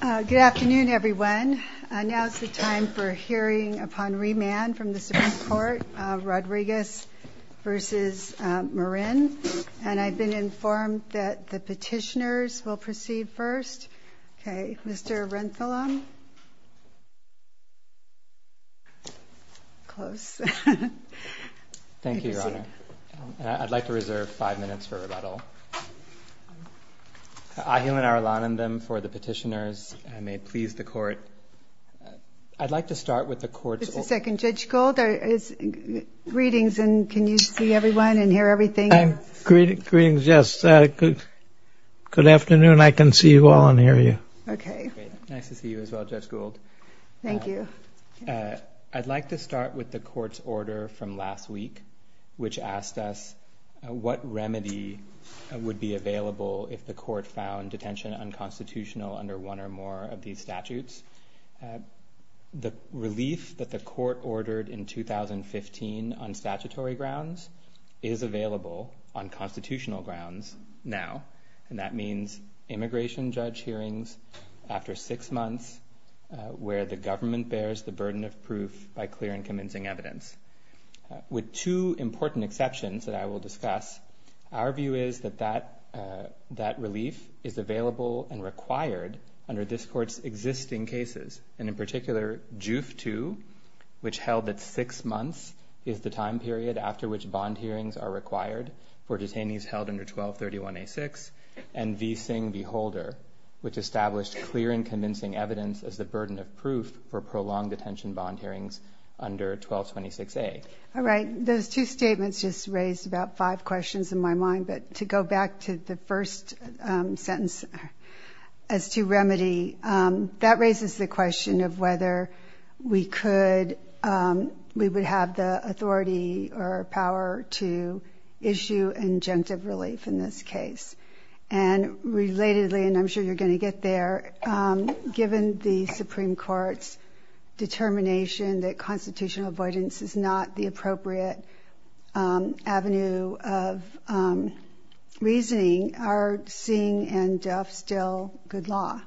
Good afternoon, everyone. Now's the time for hearing upon remand from the Supreme Court of Rodriguez v. Marin. And I've been informed that the petitioners will proceed first. Okay, Mr. Renthilam. Close. Thank you, Your Honor. I'd like to reserve five minutes for rebuttal. Ahilan Arulanandam for the petitioners, and may it please the Court. I'd like to start with the Court's order. Just a second. Judge Gould, greetings, and can you see everyone and hear everything? Greetings, yes. Good afternoon. I can see you all and hear you. Okay. Nice to see you as well, Judge Gould. Thank you. I'd like to start with the Court's order from last week, which asked us what remedy would be available if the Court found detention unconstitutional under one or more of these statutes. The relief that the Court ordered in 2015 on statutory grounds is available on constitutional grounds now, and that means immigration judge hearings after six months where the government bears the burden of proof by clearing convincing evidence. With two important exceptions that I will discuss, our view is that that relief is available and required under this Court's existing cases, and in particular, JUF II, which held at six months, is the time period after which bond hearings are required for detainees held under 1231A6, and V. Singh v. Holder, which established clear and convincing evidence as the burden of proof for prolonged detention bond hearings under 1226A. All right. Those two statements just raised about five questions in my mind, but to go back to the first sentence as to remedy, that raises the question of whether we would have the authority or power to issue injunctive relief in this case. And relatedly, and I'm sure you're going to get there, given the Supreme Court's determination that constitutional avoidance is not the appropriate avenue of reasoning, are Singh and Jeff still good law?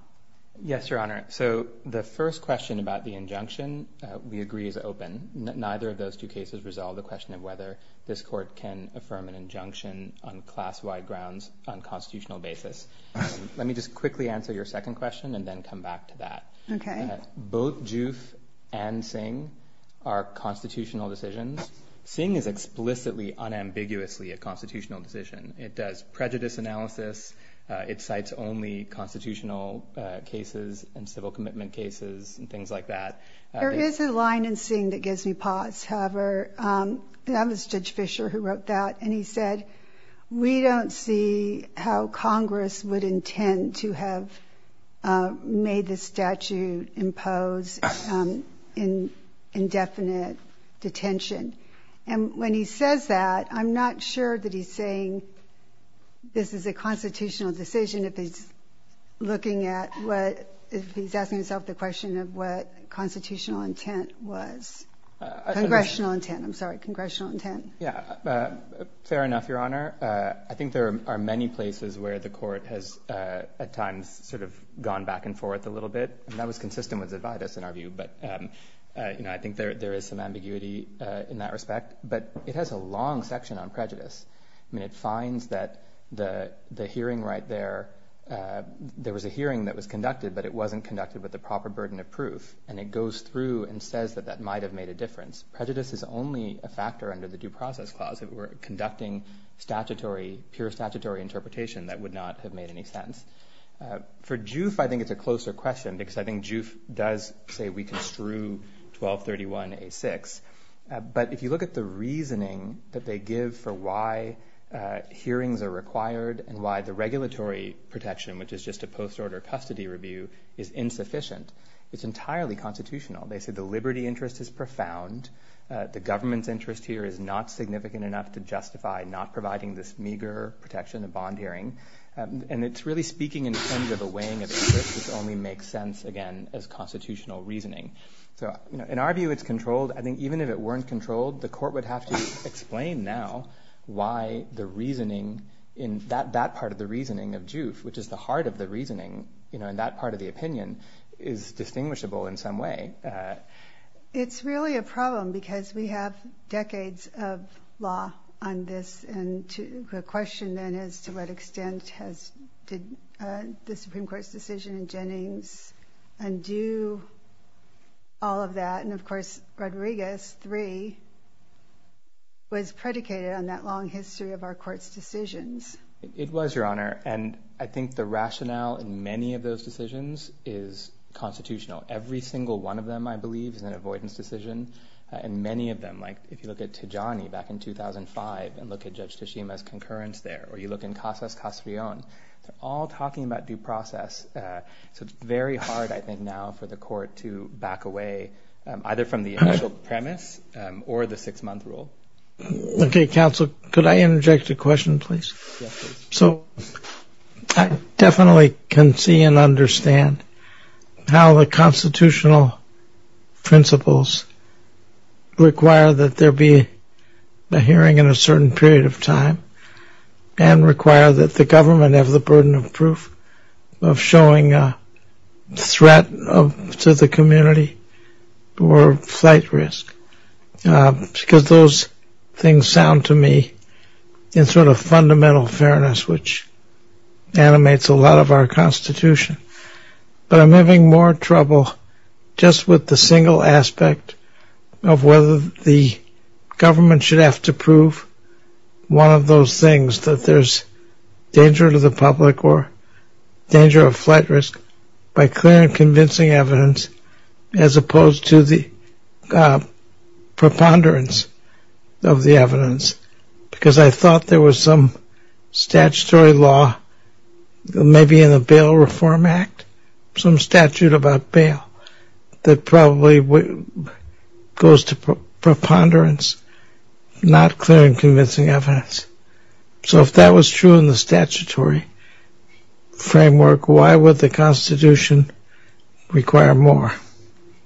Yes, Your Honor. So the first question about the injunction we agree is open. Neither of those two cases resolve the question of whether this Court can affirm an injunction on class-wide grounds on a constitutional basis. Let me just quickly answer your second question and then come back to that. Okay. Both JUF and Singh are constitutional decisions. Singh is explicitly unambiguously a constitutional decision. It does prejudice analysis. It cites only constitutional cases and civil commitment cases and things like that. There is a line in Singh that gives me pause. That was Judge Fischer who wrote that. And he said, we don't see how Congress would intend to have made this statute impose indefinite detention. And when he says that, I'm not sure that he's saying this is a constitutional decision if he's looking at what, if he's asking himself the question of what constitutional intent was. Congressional intent. I'm sorry. Congressional intent. Yeah. Fair enough, Your Honor. I think there are many places where the Court has, at times, sort of gone back and forth a little bit. And that was consistent with Zividus in our view. But, you know, I think there is some ambiguity in that respect. But it has a long section on prejudice. I mean, it finds that the hearing right there, there was a hearing that was conducted, but it wasn't conducted with the proper burden of proof. And it goes through and says that that might have made a difference. Prejudice is only a factor under the Due Process Clause. If it were conducting statutory, pure statutory interpretation, that would not have made any sense. For JUIF, I think it's a closer question because I think JUIF does say we construe 1231A6. But if you look at the reasoning that they give for why hearings are required and why the regulatory protection, which is just a post-order custody review, is insufficient, it's entirely constitutional. They say the liberty interest is profound. The government's interest here is not significant enough to justify not providing this meager protection of bond hearing. And it's really speaking in terms of a weighing of interest, which only makes sense, again, as constitutional reasoning. So, you know, in our view, it's controlled. I think even if it weren't controlled, the Court would have to explain now why the reasoning in that part of the reasoning of JUIF, which is the heart of the reasoning, you know, in that part of the opinion, is distinguishable in some way. It's really a problem because we have decades of law on this. And the question then is to what extent did the Supreme Court's decision in Jennings undo all of that? And, of course, Rodriguez III was predicated on that long history of our Court's decisions. It was, Your Honor. And I think the rationale in many of those decisions is constitutional. Every single one of them, I believe, is an avoidance decision. And many of them, like if you look at Tajani back in 2005 and look at Judge Tashima's concurrence there, or you look in Casas-Casrion, they're all talking about due process. So it's very hard, I think, now for the Court to back away either from the initial premise or the six-month rule. Okay, Counsel, could I interject a question, please? So I definitely can see and understand how the constitutional principles require that there be a hearing in a certain period of time and require that the government have the burden of proof of showing a threat to the community or a flight risk. Because those things sound to me in sort of fundamental fairness, which animates a lot of our Constitution. But I'm having more trouble just with the single aspect of whether the government should have to prove one of those things, that there's danger to the public or danger of flight risk by clear and convincing evidence, as opposed to the preponderance of the evidence. Because I thought there was some statutory law, maybe in the Bail Reform Act, some statute about bail that probably goes to preponderance, not clear and convincing evidence. So if that was true in the statutory framework, why would the Constitution require more?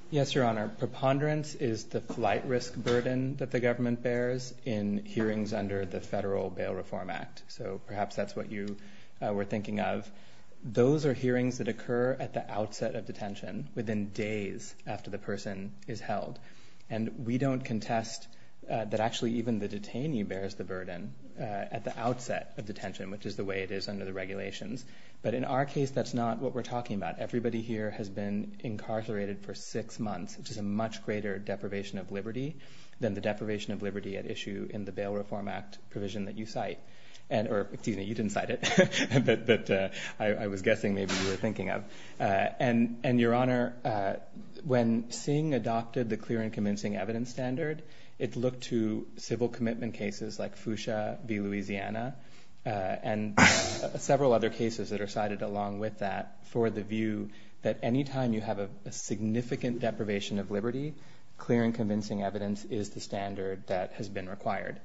Yes, Your Honor, preponderance is the flight risk burden that the government bears in hearings under the Federal Bail Reform Act. So perhaps that's what you were thinking of. But those are hearings that occur at the outset of detention, within days after the person is held. And we don't contest that actually even the detainee bears the burden at the outset of detention, which is the way it is under the regulations. But in our case, that's not what we're talking about. Everybody here has been incarcerated for six months, which is a much greater deprivation of liberty than the deprivation of liberty at issue in the Bail Reform Act provision that you cite. Excuse me, you didn't cite it, but I was guessing maybe you were thinking of. And, Your Honor, when Singh adopted the clear and convincing evidence standard, it looked to civil commitment cases like Fuchsia v. Louisiana and several other cases that are cited along with that for the view that any time you have a significant deprivation of liberty, clear and convincing evidence is the standard that has been required.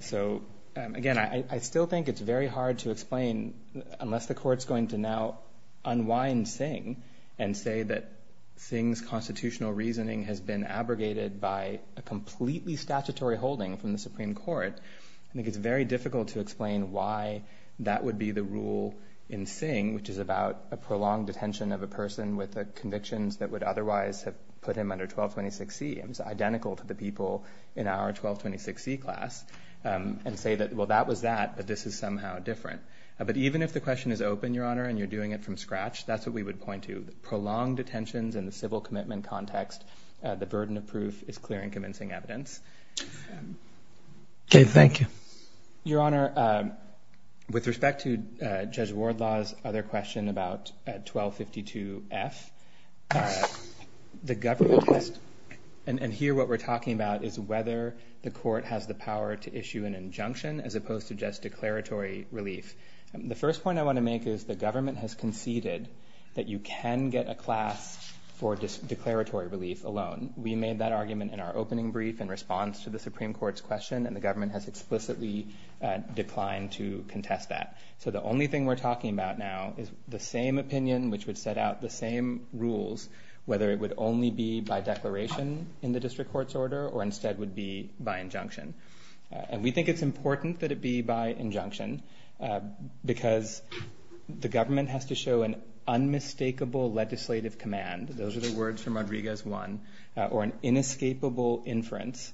So, again, I still think it's very hard to explain, unless the Court's going to now unwind Singh and say that Singh's constitutional reasoning has been abrogated by a completely statutory holding from the Supreme Court, I think it's very difficult to explain why that would be the rule in Singh, which is about a prolonged detention of a person with convictions that would otherwise have put him under 1226C. It's identical to the people in our 1226C class, and say that, well, that was that, but this is somehow different. But even if the question is open, Your Honor, and you're doing it from scratch, that's what we would point to. Prolonged detentions in the civil commitment context, the burden of proof is clear and convincing evidence. Okay, thank you. Your Honor, with respect to Judge Wardlaw's other question about 1252F, the government has, and here what we're talking about is whether the Court has the power to issue an injunction, as opposed to just declaratory relief. The first point I want to make is the government has conceded that you can get a class for declaratory relief alone. We made that argument in our opening brief in response to the Supreme Court's question, and the government has explicitly declined to contest that. So the only thing we're talking about now is the same opinion which would set out the same rules, whether it would only be by declaration in the district court's order or instead would be by injunction. And we think it's important that it be by injunction because the government has to show an unmistakable legislative command, those are the words from Rodriguez 1, or an inescapable inference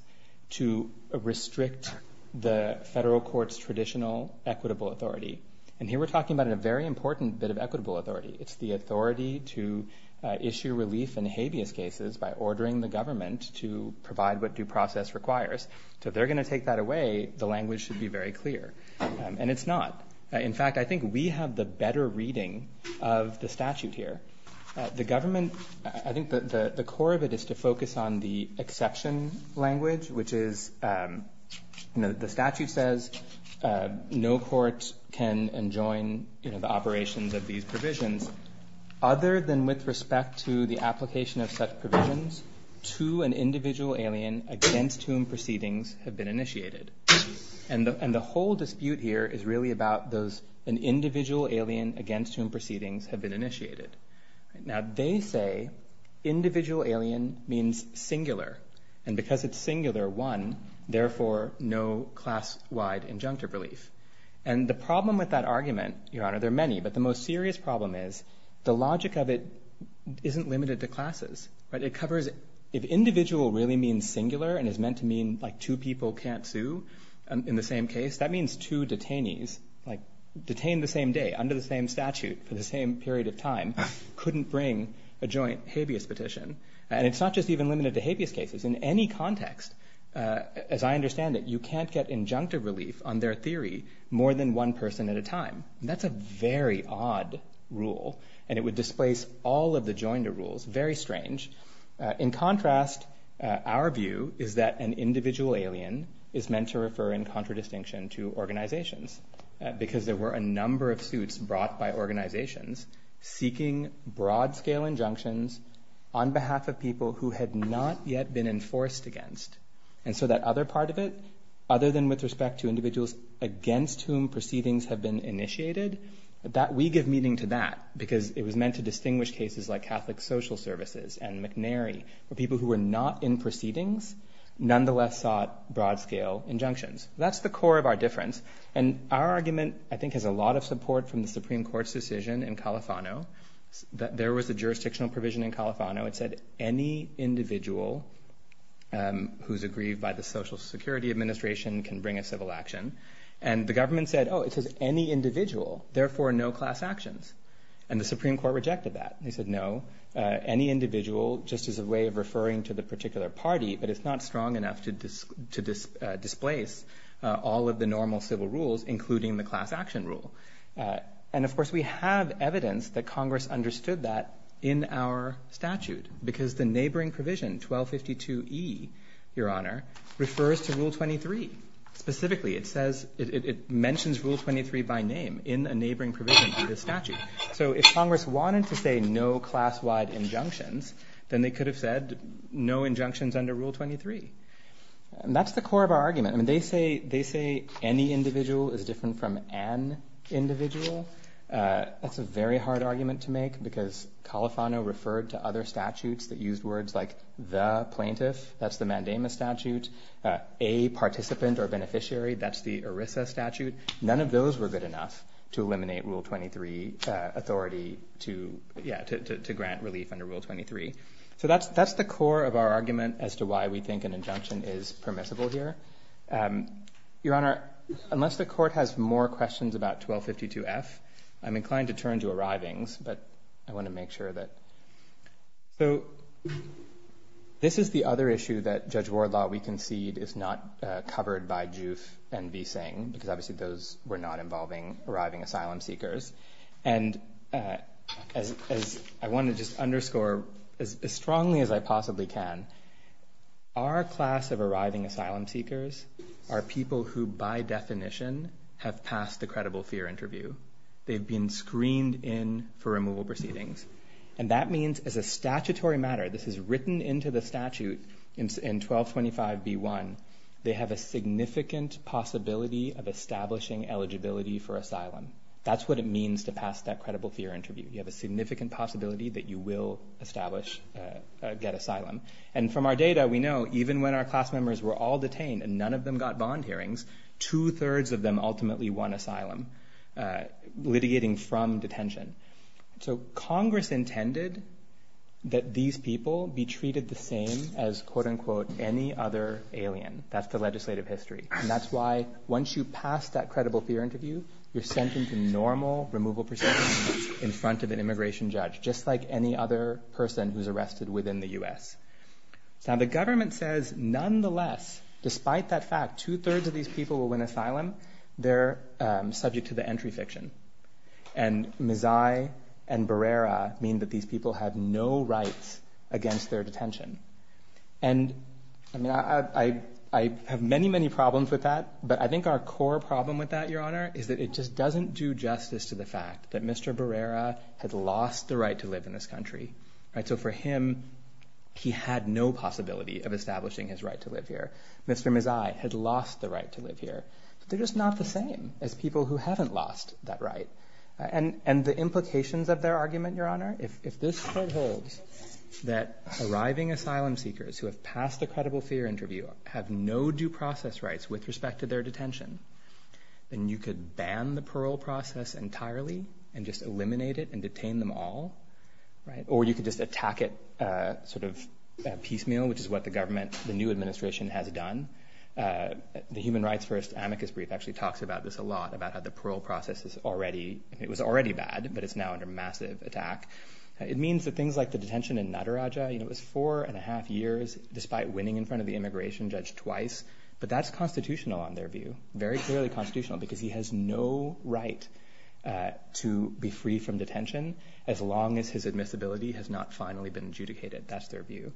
to restrict the federal court's traditional equitable authority. And here we're talking about a very important bit of equitable authority. It's the authority to issue relief in habeas cases by ordering the government to provide what due process requires. So if they're going to take that away, the language should be very clear. And it's not. In fact, I think we have the better reading of the statute here. The government, I think the core of it is to focus on the exception language, which is the statute says no court can enjoin the operations of these provisions other than with respect to the application of such provisions to an individual alien against whom proceedings have been initiated. And the whole dispute here is really about those an individual alien against whom proceedings have been initiated. Now, they say individual alien means singular. And because it's singular one, therefore, no class wide injunctive relief. And the problem with that argument, your honor, there are many. But the most serious problem is the logic of it isn't limited to classes. But it covers if individual really means singular and is meant to mean like two people can't sue in the same case. That means two detainees like detained the same day under the same statute for the same period of time couldn't bring a joint habeas petition. And it's not just even limited to habeas cases in any context. As I understand it, you can't get injunctive relief on their theory more than one person at a time. That's a very odd rule. And it would displace all of the joint rules. Very strange. In contrast, our view is that an individual alien is meant to refer in contradistinction to organizations. Because there were a number of suits brought by organizations seeking broad scale injunctions on behalf of people who had not yet been enforced against. And so that other part of it, other than with respect to individuals against whom proceedings have been initiated, that we give meaning to that. Because it was meant to distinguish cases like Catholic Social Services and McNary for people who were not in proceedings, nonetheless sought broad scale injunctions. That's the core of our difference. And our argument, I think, has a lot of support from the Supreme Court's decision in Califano that there was a jurisdictional provision in Califano. It said any individual who's aggrieved by the Social Security Administration can bring a civil action. And the government said, oh, it says any individual, therefore no class actions. And the Supreme Court rejected that. They said no, any individual just as a way of referring to the particular party, but it's not strong enough to displace all of the normal civil rules, including the class action rule. And, of course, we have evidence that Congress understood that in our statute, because the neighboring provision, 1252E, Your Honor, refers to Rule 23. Specifically, it says, it mentions Rule 23 by name in a neighboring provision to the statute. So if Congress wanted to say no class wide injunctions, then they could have said no injunctions under Rule 23. And that's the core of our argument. I mean, they say any individual is different from an individual. That's a very hard argument to make, because Califano referred to other statutes that used words like the plaintiff. That's the mandamus statute. A participant or beneficiary, that's the ERISA statute. None of those were good enough to eliminate Rule 23 authority to grant relief under Rule 23. So that's the core of our argument as to why we think an injunction is permissible here. Your Honor, unless the court has more questions about 1252F, I'm inclined to turn to arrivings. But I want to make sure that. So this is the other issue that Judge Wardlaw, we concede, is not covered by JUIF and v. Seng, because obviously those were not involving arriving asylum seekers. And I want to just underscore as strongly as I possibly can, our class of arriving asylum seekers are people who by definition have passed the credible fear interview. They've been screened in for removal proceedings. And that means as a statutory matter, this is written into the statute in 1225B1, they have a significant possibility of establishing eligibility for asylum. That's what it means to pass that credible fear interview. You have a significant possibility that you will establish, get asylum. And from our data, we know even when our class members were all detained and none of them got bond hearings, two-thirds of them ultimately won asylum, litigating from detention. So Congress intended that these people be treated the same as, quote unquote, any other alien. That's the legislative history. And that's why once you pass that credible fear interview, you're sent into normal removal proceedings in front of an immigration judge, just like any other person who's arrested within the U.S. Now, the government says nonetheless, despite that fact, two-thirds of these people will win asylum. They're subject to the entry fiction. And Mazai and Barrera mean that these people have no rights against their detention. And I mean, I have many, many problems with that. But I think our core problem with that, Your Honor, is that it just doesn't do justice to the fact that Mr. Barrera had lost the right to live in this country. So for him, he had no possibility of establishing his right to live here. Mr. Mazai had lost the right to live here. They're just not the same as people who haven't lost that right. And the implications of their argument, Your Honor, if this holds, that arriving asylum seekers who have passed the credible fear interview have no due process rights with respect to their detention, then you could ban the parole process entirely and just eliminate it and detain them all. Or you could just attack it sort of piecemeal, which is what the government, the new administration has done. The Human Rights First amicus brief actually talks about this a lot, about how the parole process is already, it was already bad, but it's now under massive attack. It means that things like the detention in Nataraja, you know, it was four and a half years despite winning in front of the immigration judge twice. But that's constitutional on their view, very clearly constitutional, because he has no right to be free from detention as long as his admissibility has not finally been adjudicated. That's their view.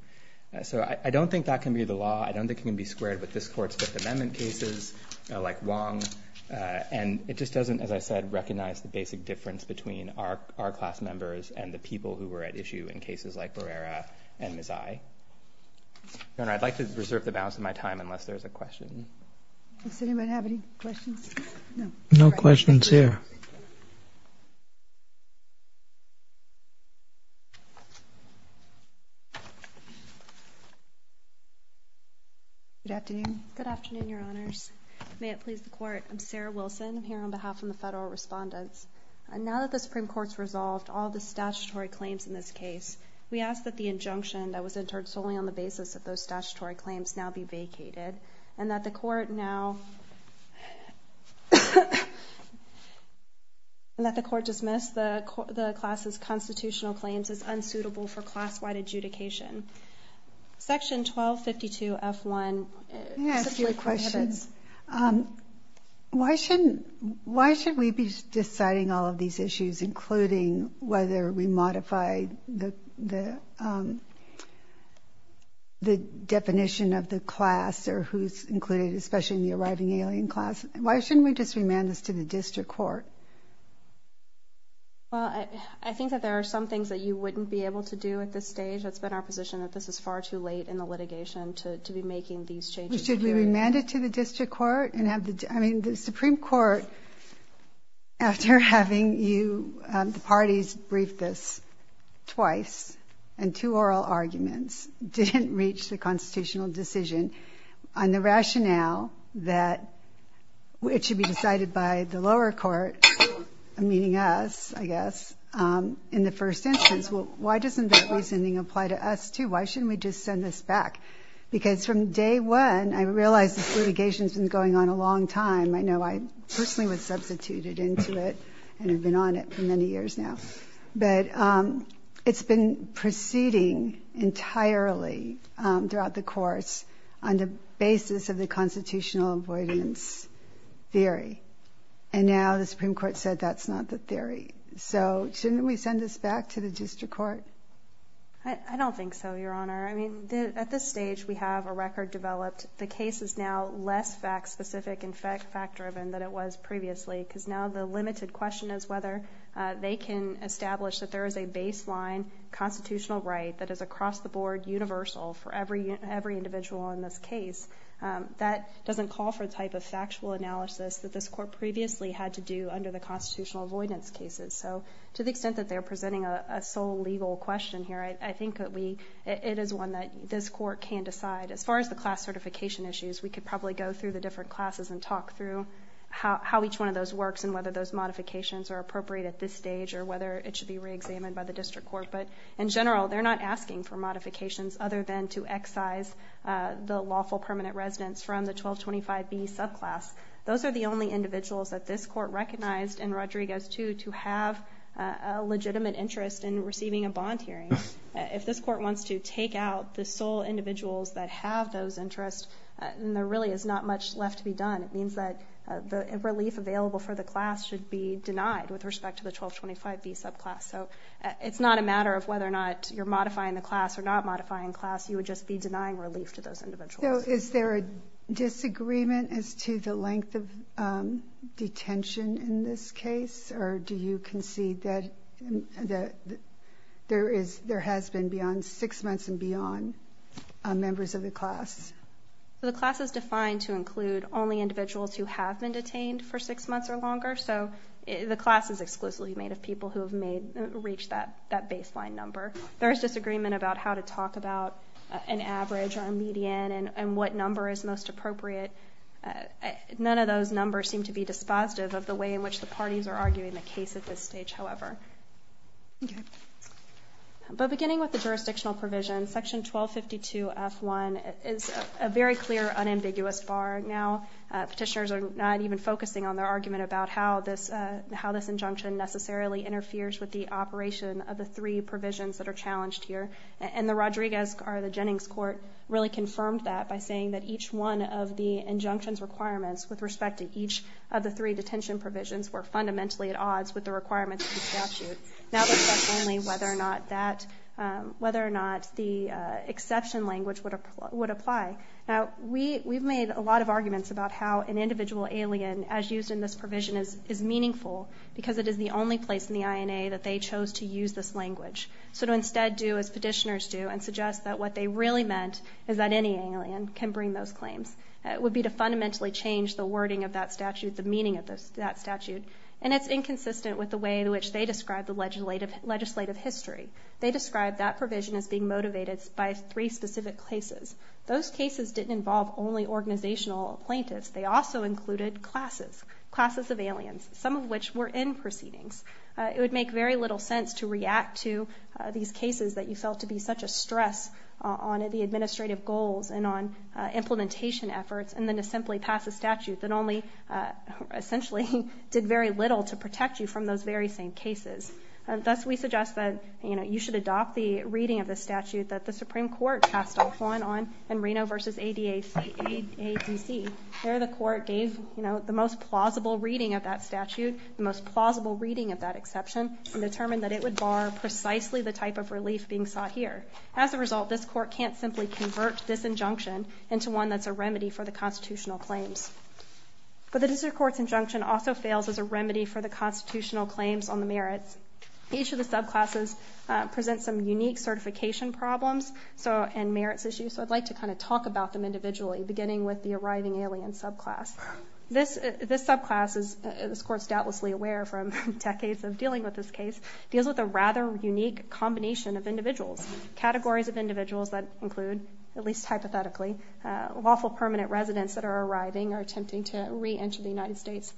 So I don't think that can be the law. I don't think it can be squared with this court's Fifth Amendment cases like Wong. And it just doesn't, as I said, recognize the basic difference between our class members and the people who were at issue in cases like Barrera and Mazai. Your Honor, I'd like to reserve the balance of my time unless there's a question. Does anybody have any questions? No. No questions here. Good afternoon. Good afternoon, Your Honors. May it please the court. I'm Sarah Wilson. I'm here on behalf of the federal respondents. Now that the Supreme Court's resolved all the statutory claims in this case, we ask that the injunction that was entered solely on the basis of those statutory claims now be vacated and that the court now, and that the court dismiss the class's constitutional claims as unsuitable for class-wide adjudication. Section 1252F1. Let me ask you a question. Why should we be deciding all of these issues, including whether we modify the definition of the class or who's included, especially in the arriving alien class? Why shouldn't we just remand this to the district court? Well, I think that there are some things that you wouldn't be able to do at this stage. That's been our position, that this is far too late in the litigation to be making these changes. Should we remand it to the district court? I mean, the Supreme Court, after having the parties brief this twice and two oral arguments, didn't reach the constitutional decision on the rationale that it should be decided by the lower court, meaning us, I guess, in the first instance. Why doesn't that reasoning apply to us, too? Why shouldn't we just send this back? Because from day one, I realized this litigation's been going on a long time. I know I personally was substituted into it and have been on it for many years now. But it's been proceeding entirely throughout the course on the basis of the constitutional avoidance theory. And now the Supreme Court said that's not the theory. So shouldn't we send this back to the district court? I don't think so, Your Honor. I mean, at this stage, we have a record developed. The case is now less fact-specific and fact-driven than it was previously because now the limited question is whether they can establish that there is a baseline constitutional right that is across the board universal for every individual in this case. That doesn't call for the type of factual analysis that this court previously had to do under the constitutional avoidance cases. So to the extent that they're presenting a sole legal question here, I think that it is one that this court can decide. As far as the class certification issues, we could probably go through the different classes and talk through how each one of those works and whether those modifications are appropriate at this stage or whether it should be reexamined by the district court. But in general, they're not asking for modifications other than to excise the lawful permanent residents from the 1225B subclass. Those are the only individuals that this court recognized in Rodriguez 2 to have a legitimate interest in receiving a bond hearing. If this court wants to take out the sole individuals that have those interests, then there really is not much left to be done. It means that the relief available for the class should be denied with respect to the 1225B subclass. So it's not a matter of whether or not you're modifying the class or not modifying the class. You would just be denying relief to those individuals. So is there a disagreement as to the length of detention in this case? Or do you concede that there has been beyond six months and beyond members of the class? The class is defined to include only individuals who have been detained for six months or longer. So the class is exclusively made of people who have reached that baseline number. There is disagreement about how to talk about an average or a median and what number is most appropriate. None of those numbers seem to be dispositive of the way in which the parties are arguing the case at this stage, however. But beginning with the jurisdictional provision, Section 1252F1 is a very clear, unambiguous bar. Petitioners are not even focusing on their argument about how this injunction necessarily interferes with the operation of the three provisions that are challenged here. And the Rodriguez or the Jennings court really confirmed that by saying that each one of the injunction's requirements with respect to each of the three detention provisions were fundamentally at odds with the requirements of the statute. Now it's just only whether or not the exception language would apply. Now we've made a lot of arguments about how an individual alien, as used in this provision, is meaningful because it is the only place in the INA that they chose to use this language. So to instead do as petitioners do and suggest that what they really meant is that any alien can bring those claims would be to fundamentally change the wording of that statute, the meaning of that statute. And it's inconsistent with the way in which they describe the legislative history. They describe that provision as being motivated by three specific cases. Those cases didn't involve only organizational plaintiffs. They also included classes, classes of aliens, some of which were in proceedings. It would make very little sense to react to these cases that you felt to be such a stress on the administrative goals and on implementation efforts and then to simply pass a statute that only essentially did very little to protect you from those very same cases. And thus we suggest that you should adopt the reading of the statute that the Supreme Court passed off on in Reno v. ADC. There the court gave the most plausible reading of that statute, the most plausible reading of that exception and determined that it would bar precisely the type of relief being sought here. As a result, this court can't simply convert this injunction into one that's a remedy for the constitutional claims. But the district court's injunction also fails as a remedy for the constitutional claims on the merits. Each of the subclasses presents some unique certification problems and merits issues, so I'd like to kind of talk about them individually, beginning with the arriving alien subclass. This subclass, as this court's doubtlessly aware from decades of dealing with this case, deals with a rather unique combination of individuals, categories of individuals that include, at least hypothetically, lawful permanent residents that are arriving or attempting to re-enter the United States.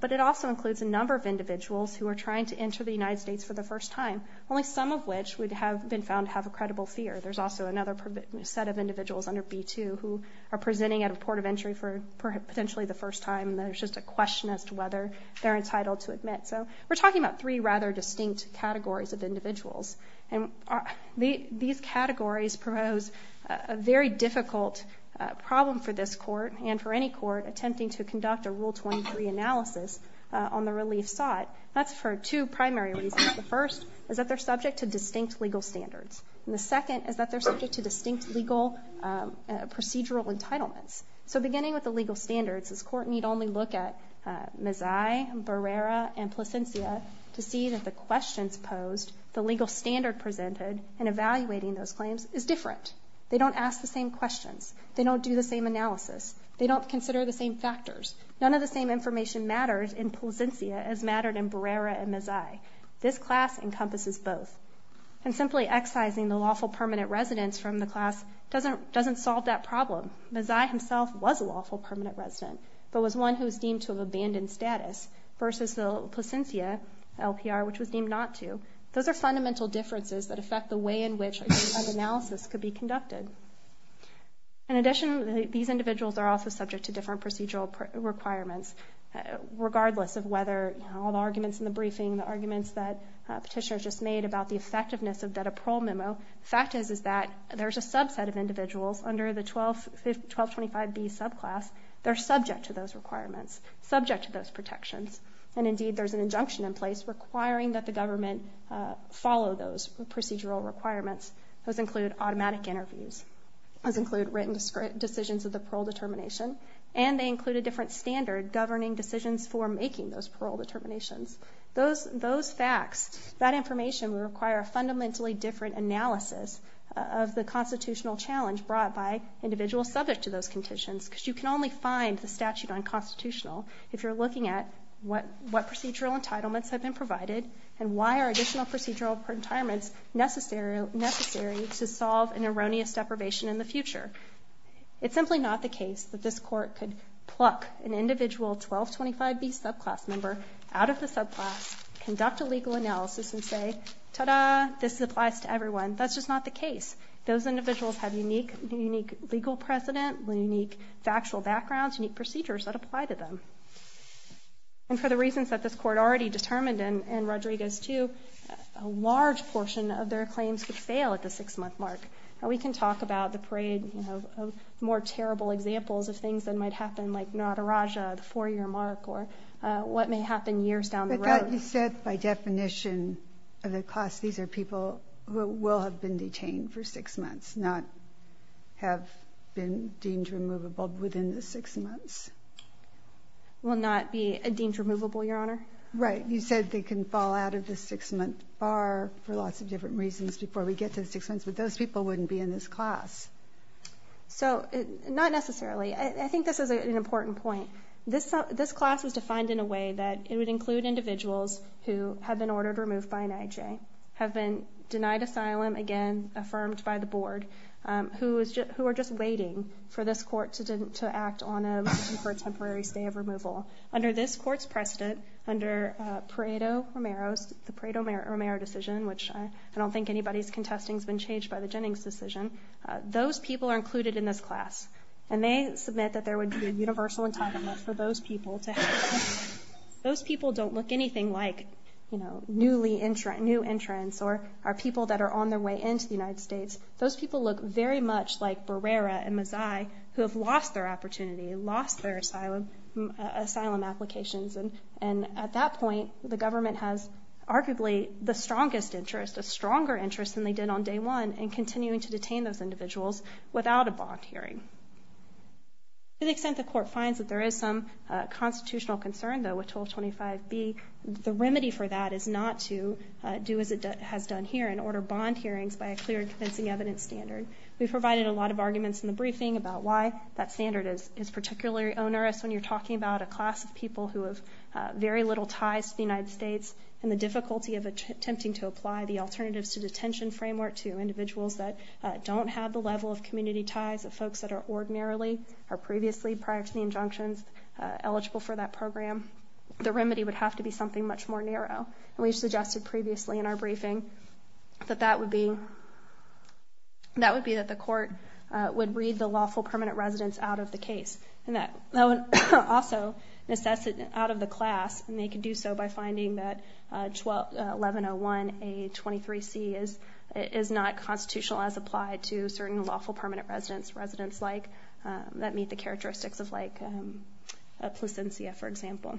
But it also includes a number of individuals who are trying to enter the United States for the first time, only some of which have been found to have a credible fear. There's also another set of individuals under B-2 who are presenting at a port of entry for potentially the first time and there's just a question as to whether they're entitled to admit. So we're talking about three rather distinct categories of individuals. And these categories propose a very difficult problem for this court and for any court attempting to conduct a Rule 23 analysis on the relief sought. That's for two primary reasons. The first is that they're subject to distinct legal standards. And the second is that they're subject to distinct legal procedural entitlements. So beginning with the legal standards, this court need only look at Mazzei, Barrera, and Placencia to see that the questions posed, the legal standard presented, in evaluating those claims is different. They don't ask the same questions. They don't do the same analysis. They don't consider the same factors. None of the same information matters in Placencia as mattered in Barrera and Mazzei. This class encompasses both. And simply excising the lawful permanent residents from the class doesn't solve that problem. Mazzei himself was a lawful permanent resident but was one who was deemed to have abandoned status versus the Placencia LPR, which was deemed not to. Those are fundamental differences that affect the way in which an analysis could be conducted. In addition, these individuals are also subject to different procedural requirements, regardless of whether all the arguments in the briefing, the arguments that Petitioner just made about the effectiveness of that parole memo. The fact is that there's a subset of individuals under the 1225B subclass that are subject to those requirements, and indeed there's an injunction in place requiring that the government follow those procedural requirements. Those include automatic interviews. Those include written decisions of the parole determination. And they include a different standard governing decisions for making those parole determinations. Those facts, that information, would require a fundamentally different analysis of the constitutional challenge brought by individuals subject to those conditions because you can only find the statute on constitutional if you're looking at what procedural entitlements have been provided and why are additional procedural retirements necessary to solve an erroneous deprivation in the future. It's simply not the case that this court could pluck an individual 1225B subclass member out of the subclass, conduct a legal analysis, and say, ta-da, this applies to everyone. That's just not the case. Those individuals have unique legal precedent, unique factual backgrounds, unique procedures that apply to them. And for the reasons that this court already determined in Rodriguez 2, a large portion of their claims could fail at the six-month mark. We can talk about the parade of more terrible examples of things that might happen, like Nataraja, the four-year mark, or what may happen years down the road. You said by definition of the class, these are people who will have been detained for six months, not have been deemed removable within the six months. Will not be deemed removable, Your Honor. Right. You said they can fall out of the six-month bar for lots of different reasons before we get to the six months, but those people wouldn't be in this class. So, not necessarily. I think this is an important point. This class is defined in a way that it would include individuals who have been ordered removed by an IJ, have been denied asylum, again, affirmed by the board, who are just waiting for this court to act on a motion for a temporary stay of removal. Under this court's precedent, under Pareto-Romero's, the Pareto-Romero decision, which I don't think anybody's contesting has been changed by the Jennings decision, those people are included in this class, and they submit that there would be a universal entitlement for those people to have. Those people don't look anything like, you know, newly entrants, new entrants, or are people that are on their way into the United States. Those people look very much like Barrera and Mazay, who have lost their opportunity, lost their asylum applications, and at that point, the government has arguably the strongest interest, a stronger interest than they did on day one in continuing to detain those individuals without a bond hearing. To the extent the court finds that there is some constitutional concern, though, with 1225B, the remedy for that is not to do as it has done here and order bond hearings by a clear and convincing evidence standard. We provided a lot of arguments in the briefing about why that standard is particularly onerous when you're talking about a class of people who have very little ties to the United States and the difficulty of attempting to apply the alternatives to detention framework to individuals that don't have the level of community ties of folks that are ordinarily, or previously, prior to the injunctions, eligible for that program. The remedy would have to be something much more narrow, and we suggested previously in our briefing that that would be, that would be that the court would read the lawful permanent residence out of the case. And that would also assess it out of the class, and they could do so by finding that 1101A23C is not constitutional as applied to certain lawful permanent residence like, that meet the characteristics of, like, Placentia, for example.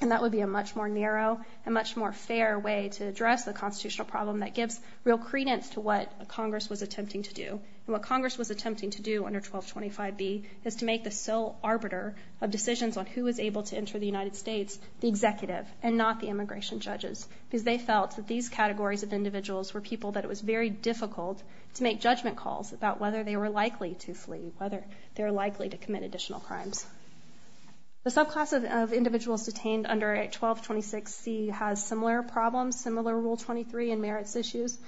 And that would be a much more narrow and much more fair way to address the constitutional problem that gives real credence to what Congress was attempting to do. And what Congress was attempting to do under 1225B is to make the sole arbiter of decisions on who was able to enter the United States the executive and not the immigration judges, because they felt that these categories of individuals were people that it was very difficult to make judgment calls about whether they were likely to flee, whether they were likely to commit additional crimes. The subclass of individuals detained under 1226C has similar problems, similar Rule 23 and merits issues.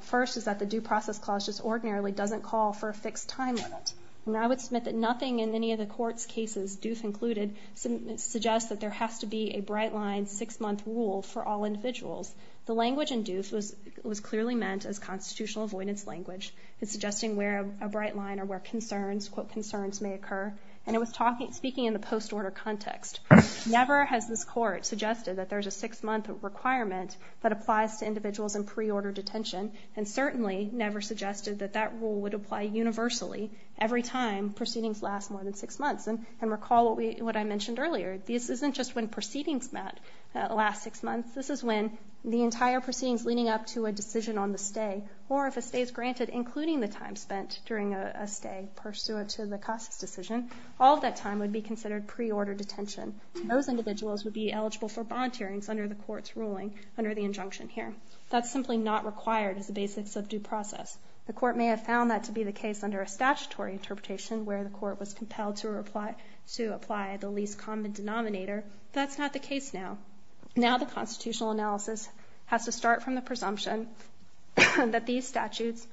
First is that the Due Process Clause just ordinarily doesn't call for a fixed time limit. And I would submit that nothing in any of the court's cases, Duth included, suggests that there has to be a bright line six-month rule for all individuals. The language in Duth was clearly meant as constitutional avoidance language. It's suggesting where a bright line or where concerns, quote, concerns may occur. And it was speaking in the post-order context. Never has this court suggested that there's a six-month requirement that applies to individuals in pre-order detention, and certainly never suggested that that rule would apply universally every time proceedings last more than six months. And recall what I mentioned earlier. This isn't just when proceedings last six months. This is when the entire proceedings leading up to a decision on the stay or if a stay is granted including the time spent during a stay pursuant to the cost decision, all of that time would be considered pre-order detention. Those individuals would be eligible for bond hearings under the court's ruling, under the injunction here. That's simply not required as the basics of due process. The court may have found that to be the case under a statutory interpretation where the court was compelled to apply the least common denominator. That's not the case now. Now the constitutional analysis has to start from the presumption that these statutes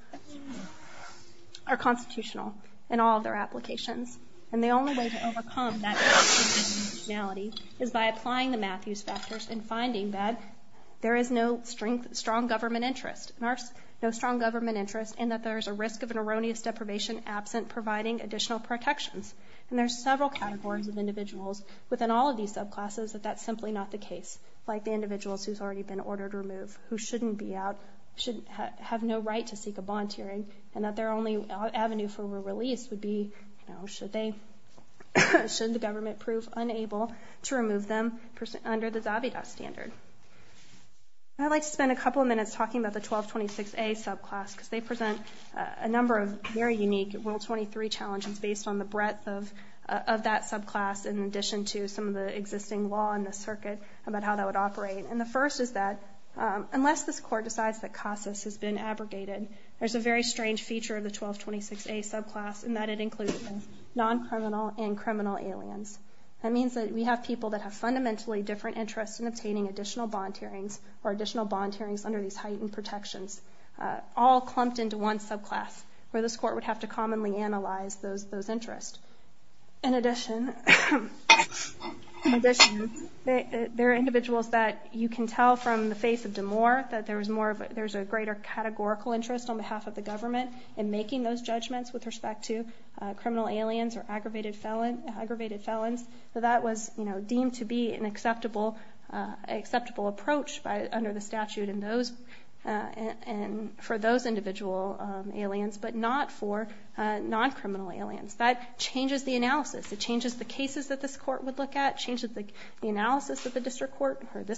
are constitutional in all of their applications. And the only way to overcome that constitutionality is by applying the Matthews factors and finding that there is no strong government interest and that there is a risk of an erroneous deprivation absent providing additional protections. And there's several categories of individuals within all of these subclasses that that's simply not the case, like the individuals who have already been ordered to remove who shouldn't have no right to seek a bond hearing and that their only avenue for release would be should the government prove unable to remove them under the Zabita standard. I'd like to spend a couple of minutes talking about the 1226A subclass because they present a number of very unique World 23 challenges based on the breadth of that subclass in addition to some of the existing law in the circuit about how that would operate. And the first is that unless this court decides that CASAS has been abrogated, there's a very strange feature of the 1226A subclass in that it includes both non-criminal and criminal aliens. That means that we have people that have fundamentally different interests in obtaining additional bond hearings or additional bond hearings under these heightened protections all clumped into one subclass where this court would have to commonly analyze those interests. There's a greater categorical interest on behalf of the government in making those judgments with respect to criminal aliens or aggravated felons. So that was deemed to be an acceptable approach under the statute for those individual aliens but not for non-criminal aliens. That changes the analysis. It changes the cases that this court would look at. It changes the analysis that this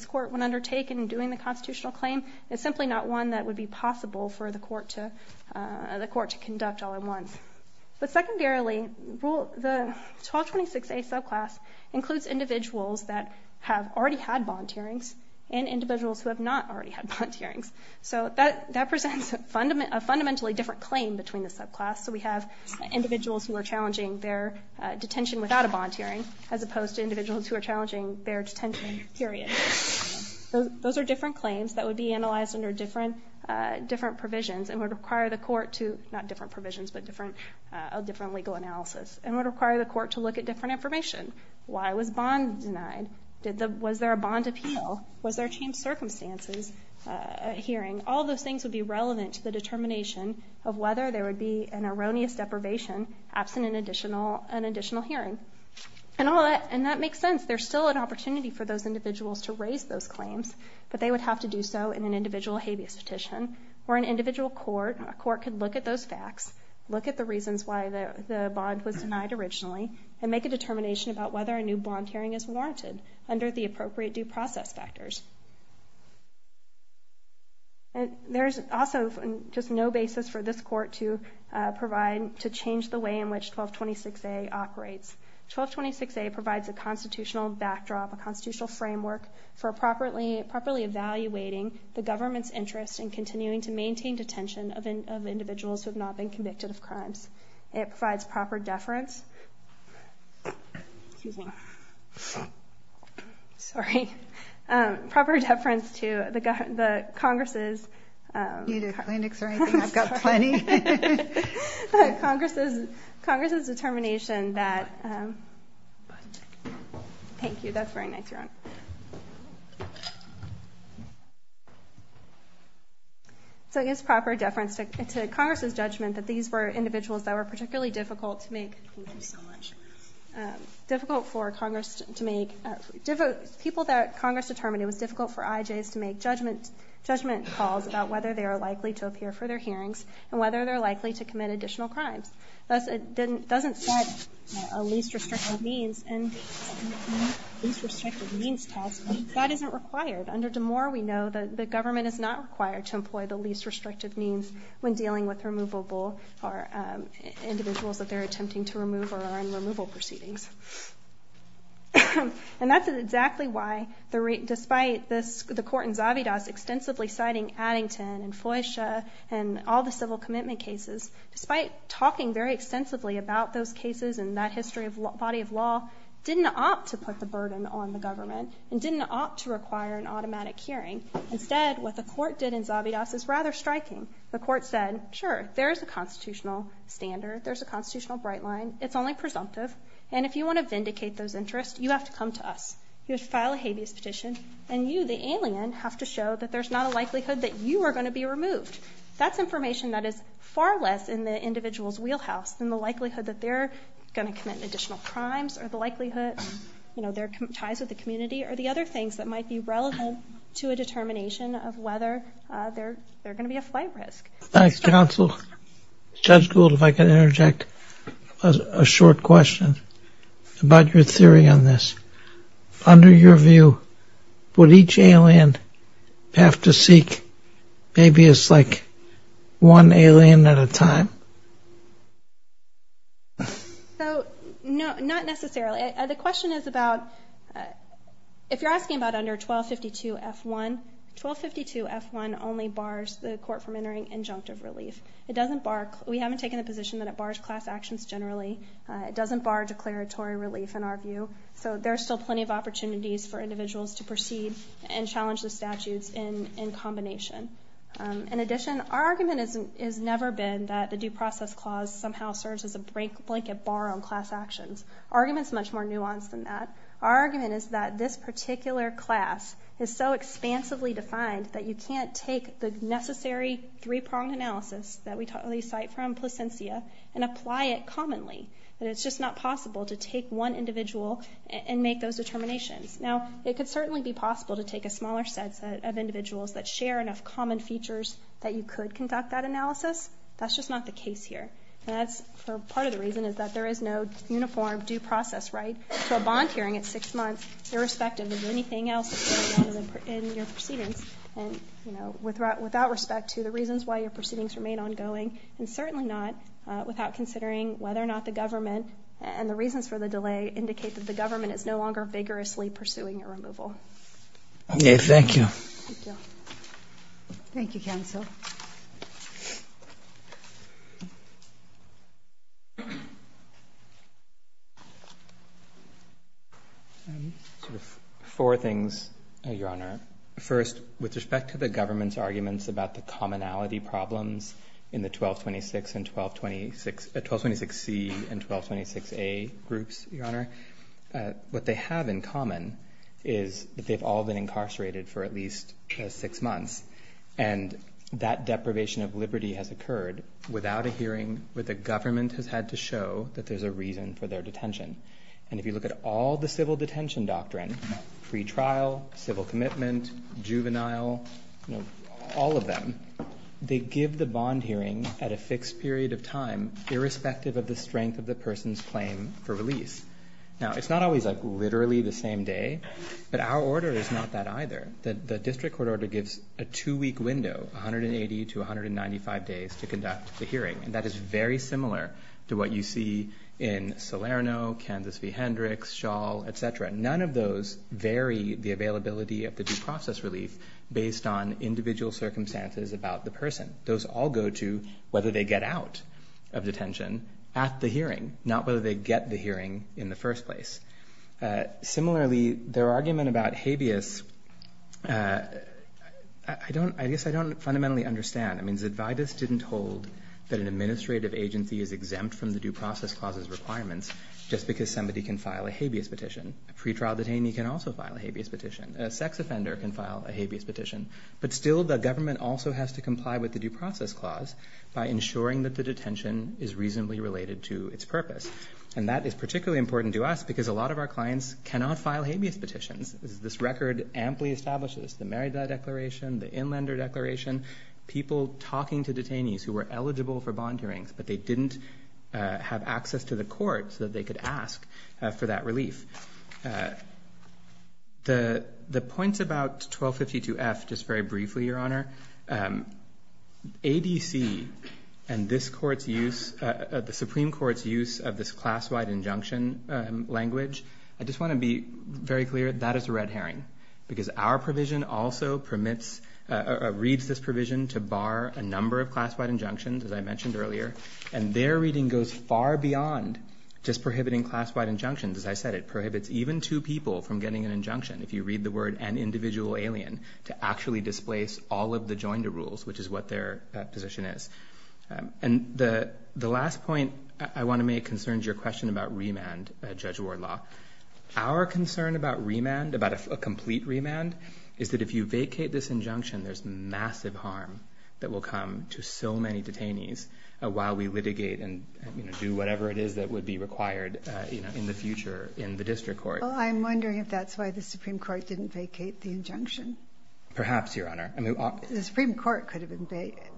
court would undertake in doing the constitutional claim. It's simply not one that would be possible for the court to conduct all at once. But secondarily, the 1226A subclass includes individuals that have already had bond hearings and individuals who have not already had bond hearings. So that presents a fundamentally different claim between the subclass. So we have individuals who are challenging their detention without a bond hearing as opposed to individuals who are challenging their detention, period. Those are different claims that would be analyzed under different provisions and would require the court to look at different information. Why was bond denied? Was there a bond appeal? Was there a changed circumstances hearing? All those things would be relevant to the determination of whether there would be an erroneous deprivation absent an additional hearing. And that makes sense. There's still an opportunity for those individuals to raise those claims, but they would have to do so in an individual habeas petition where an individual court could look at those facts, look at the reasons why the bond was denied originally, and make a determination about whether a new bond hearing is warranted under the appropriate due process factors. There's also just no basis for this court to change the way in which 1226A operates. 1226A provides a constitutional backdrop, a constitutional framework for properly evaluating the government's interest in continuing to maintain detention of individuals who have not been convicted of crimes. It provides proper deference to the Congress's determination Thank you. That's very nice, Your Honor. So it gives proper deference to Congress's judgment that these were individuals that were particularly difficult to make difficult for Congress to make people that Congress determined it was difficult for IJs to make judgment calls about whether they are likely to appear for their hearings and whether they're likely to commit additional crimes. It doesn't set a least restrictive means task. That isn't required. Under Damore, we know the government is not required to employ the least restrictive means when dealing with individuals that they're attempting to remove or are in removal proceedings. And that's exactly why, despite the court in Zavidas extensively citing Addington and Foysha and all the civil commitment cases, despite talking very extensively about those cases and that history of body of law, didn't opt to put the burden on the government and didn't opt to require an automatic hearing. Instead, what the court did in Zavidas is rather striking. The court said, sure, there's a constitutional standard. There's a constitutional bright line. It's only presumptive. And if you want to vindicate those interests, you have to come to us. You have to file a habeas petition. And you, the alien, have to show that there's not a likelihood that you are going to be removed. That's information that is far less in the individual's wheelhouse than the likelihood that they're going to commit additional crimes or the likelihood, you know, their ties with the community or the other things that might be relevant to a determination of whether they're going to be a flight risk. Thanks, counsel. Judge Gould, if I could interject a short question about your theory on this. Under your view, would each alien have to seek habeas like one alien at a time? So, no, not necessarily. The question is about, if you're asking about under 1252F1, 1252F1 only bars the court from entering injunctive relief. It doesn't bar, we haven't taken a position that it bars class actions generally. It doesn't bar declaratory relief in our view. So there's still plenty of opportunities for individuals to proceed and challenge the statutes in combination. In addition, our argument has never been that the Due Process Clause somehow serves as a blanket bar on class actions. Our argument is much more nuanced than that. Our argument is that this particular class is so expansively defined that you can't take the necessary three-pronged analysis that we cite from Placentia and apply it commonly. It's just not possible to take one individual and make those determinations. Now, it could certainly be possible to take a smaller set of individuals that share enough common features that you could conduct that analysis. That's just not the case here. And that's part of the reason is that there is no uniform due process right to a bond hearing at six months irrespective of anything else in your proceedings without respect to the reasons why your proceedings remain ongoing, and certainly not without considering whether or not the government and the reasons for the delay indicate that the government is no longer vigorously pursuing a removal. Okay. Thank you. Thank you, counsel. Four things, Your Honor. First, with respect to the government's arguments about the commonality problems in the 1226C and 1226A groups, Your Honor, what they have in common is that they've all been incarcerated for at least six months, and that deprivation of liberty has occurred without a hearing where the government has had to show that there's a reason for their detention. And if you look at all the civil detention doctrine, pretrial, civil commitment, juvenile, all of them, they give the bond hearing at a fixed period of time irrespective of the strength of the person's claim for release. Now, it's not always like literally the same day, but our order is not that either. The district court order gives a two-week window, 180 to 195 days to conduct the hearing, and that is very similar to what you see in Salerno, Kansas v. Hendricks, Shaw, et cetera. None of those vary the availability of the due process relief based on individual circumstances about the person. Those all go to whether they get out of detention at the hearing, not whether they get the hearing in the first place. Similarly, their argument about habeas, I guess I don't fundamentally understand. I mean, Zidvaitis didn't hold that an administrative agency is exempt from the due process clause's requirements just because somebody can file a habeas petition. A pretrial detainee can also file a habeas petition. A sex offender can file a habeas petition, but still the government also has to comply with the due process clause by ensuring that the detention is reasonably related to its purpose. And that is particularly important to us because a lot of our clients cannot file habeas petitions. This record amply establishes the Merida Declaration, the Inlander Declaration, people talking to detainees who were eligible for bond hearings, but they didn't have access to the court so that they could ask for that relief. The points about 1252F, just very briefly, Your Honor, ADC and this court's use, the Supreme Court's use of this class-wide injunction language, I just want to be very clear, that is a red herring because our provision also permits, reads this provision to bar a number of class-wide injunctions, as I mentioned earlier, and their reading goes far beyond just prohibiting class-wide injunctions. As I said, it prohibits even two people from getting an injunction, if you read the word an individual alien, to actually displace all of the joinder rules, which is what their position is. And the last point I want to make concerns your question about remand, Judge Wardlaw. Our concern about remand, about a complete remand, is that if you vacate this injunction, there's massive harm that will come to so many detainees while we litigate and do whatever it is that would be required in the future in the district court. Well, I'm wondering if that's why the Supreme Court didn't vacate the injunction. Perhaps, Your Honor. The Supreme Court could have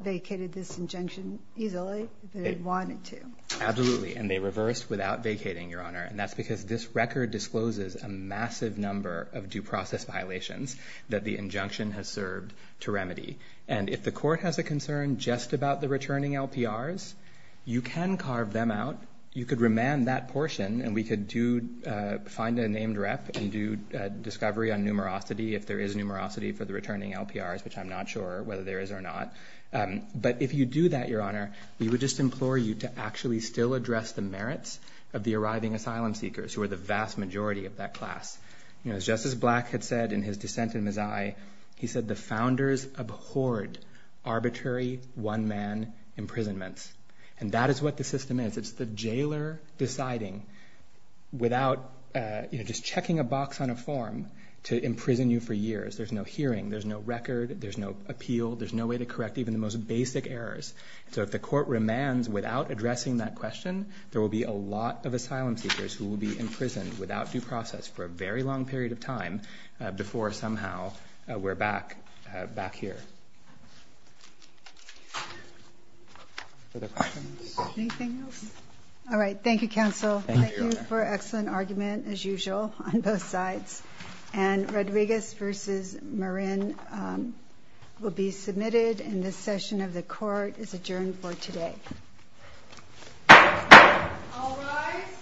vacated this injunction easily if they wanted to. Absolutely, and they reversed without vacating, Your Honor, and that's because this record discloses a massive number of due process violations that the injunction has served to remedy. And if the court has a concern just about the returning LPRs, you can carve them out. You could remand that portion, and we could find a named rep and do discovery on numerosity if there is numerosity for the returning LPRs, which I'm not sure whether there is or not. But if you do that, Your Honor, we would just implore you to actually still address the merits of the arriving asylum seekers who are the vast majority of that class. As Justice Black had said in his dissent in Mazzai, he said the founders abhorred arbitrary one-man imprisonments, and that is what the system is. It's the jailer deciding without just checking a box on a form to imprison you for years. There's no hearing. There's no record. There's no appeal. There's no way to correct even the most basic errors. So if the court remands without addressing that question, there will be a lot of asylum seekers who will be imprisoned without due process for a very long period of time before somehow we're back here. Other questions? Anything else? All right. Thank you, counsel. Thank you for an excellent argument, as usual, on both sides. And Rodriguez v. Marin will be submitted, and this session of the court is adjourned for today. All rise.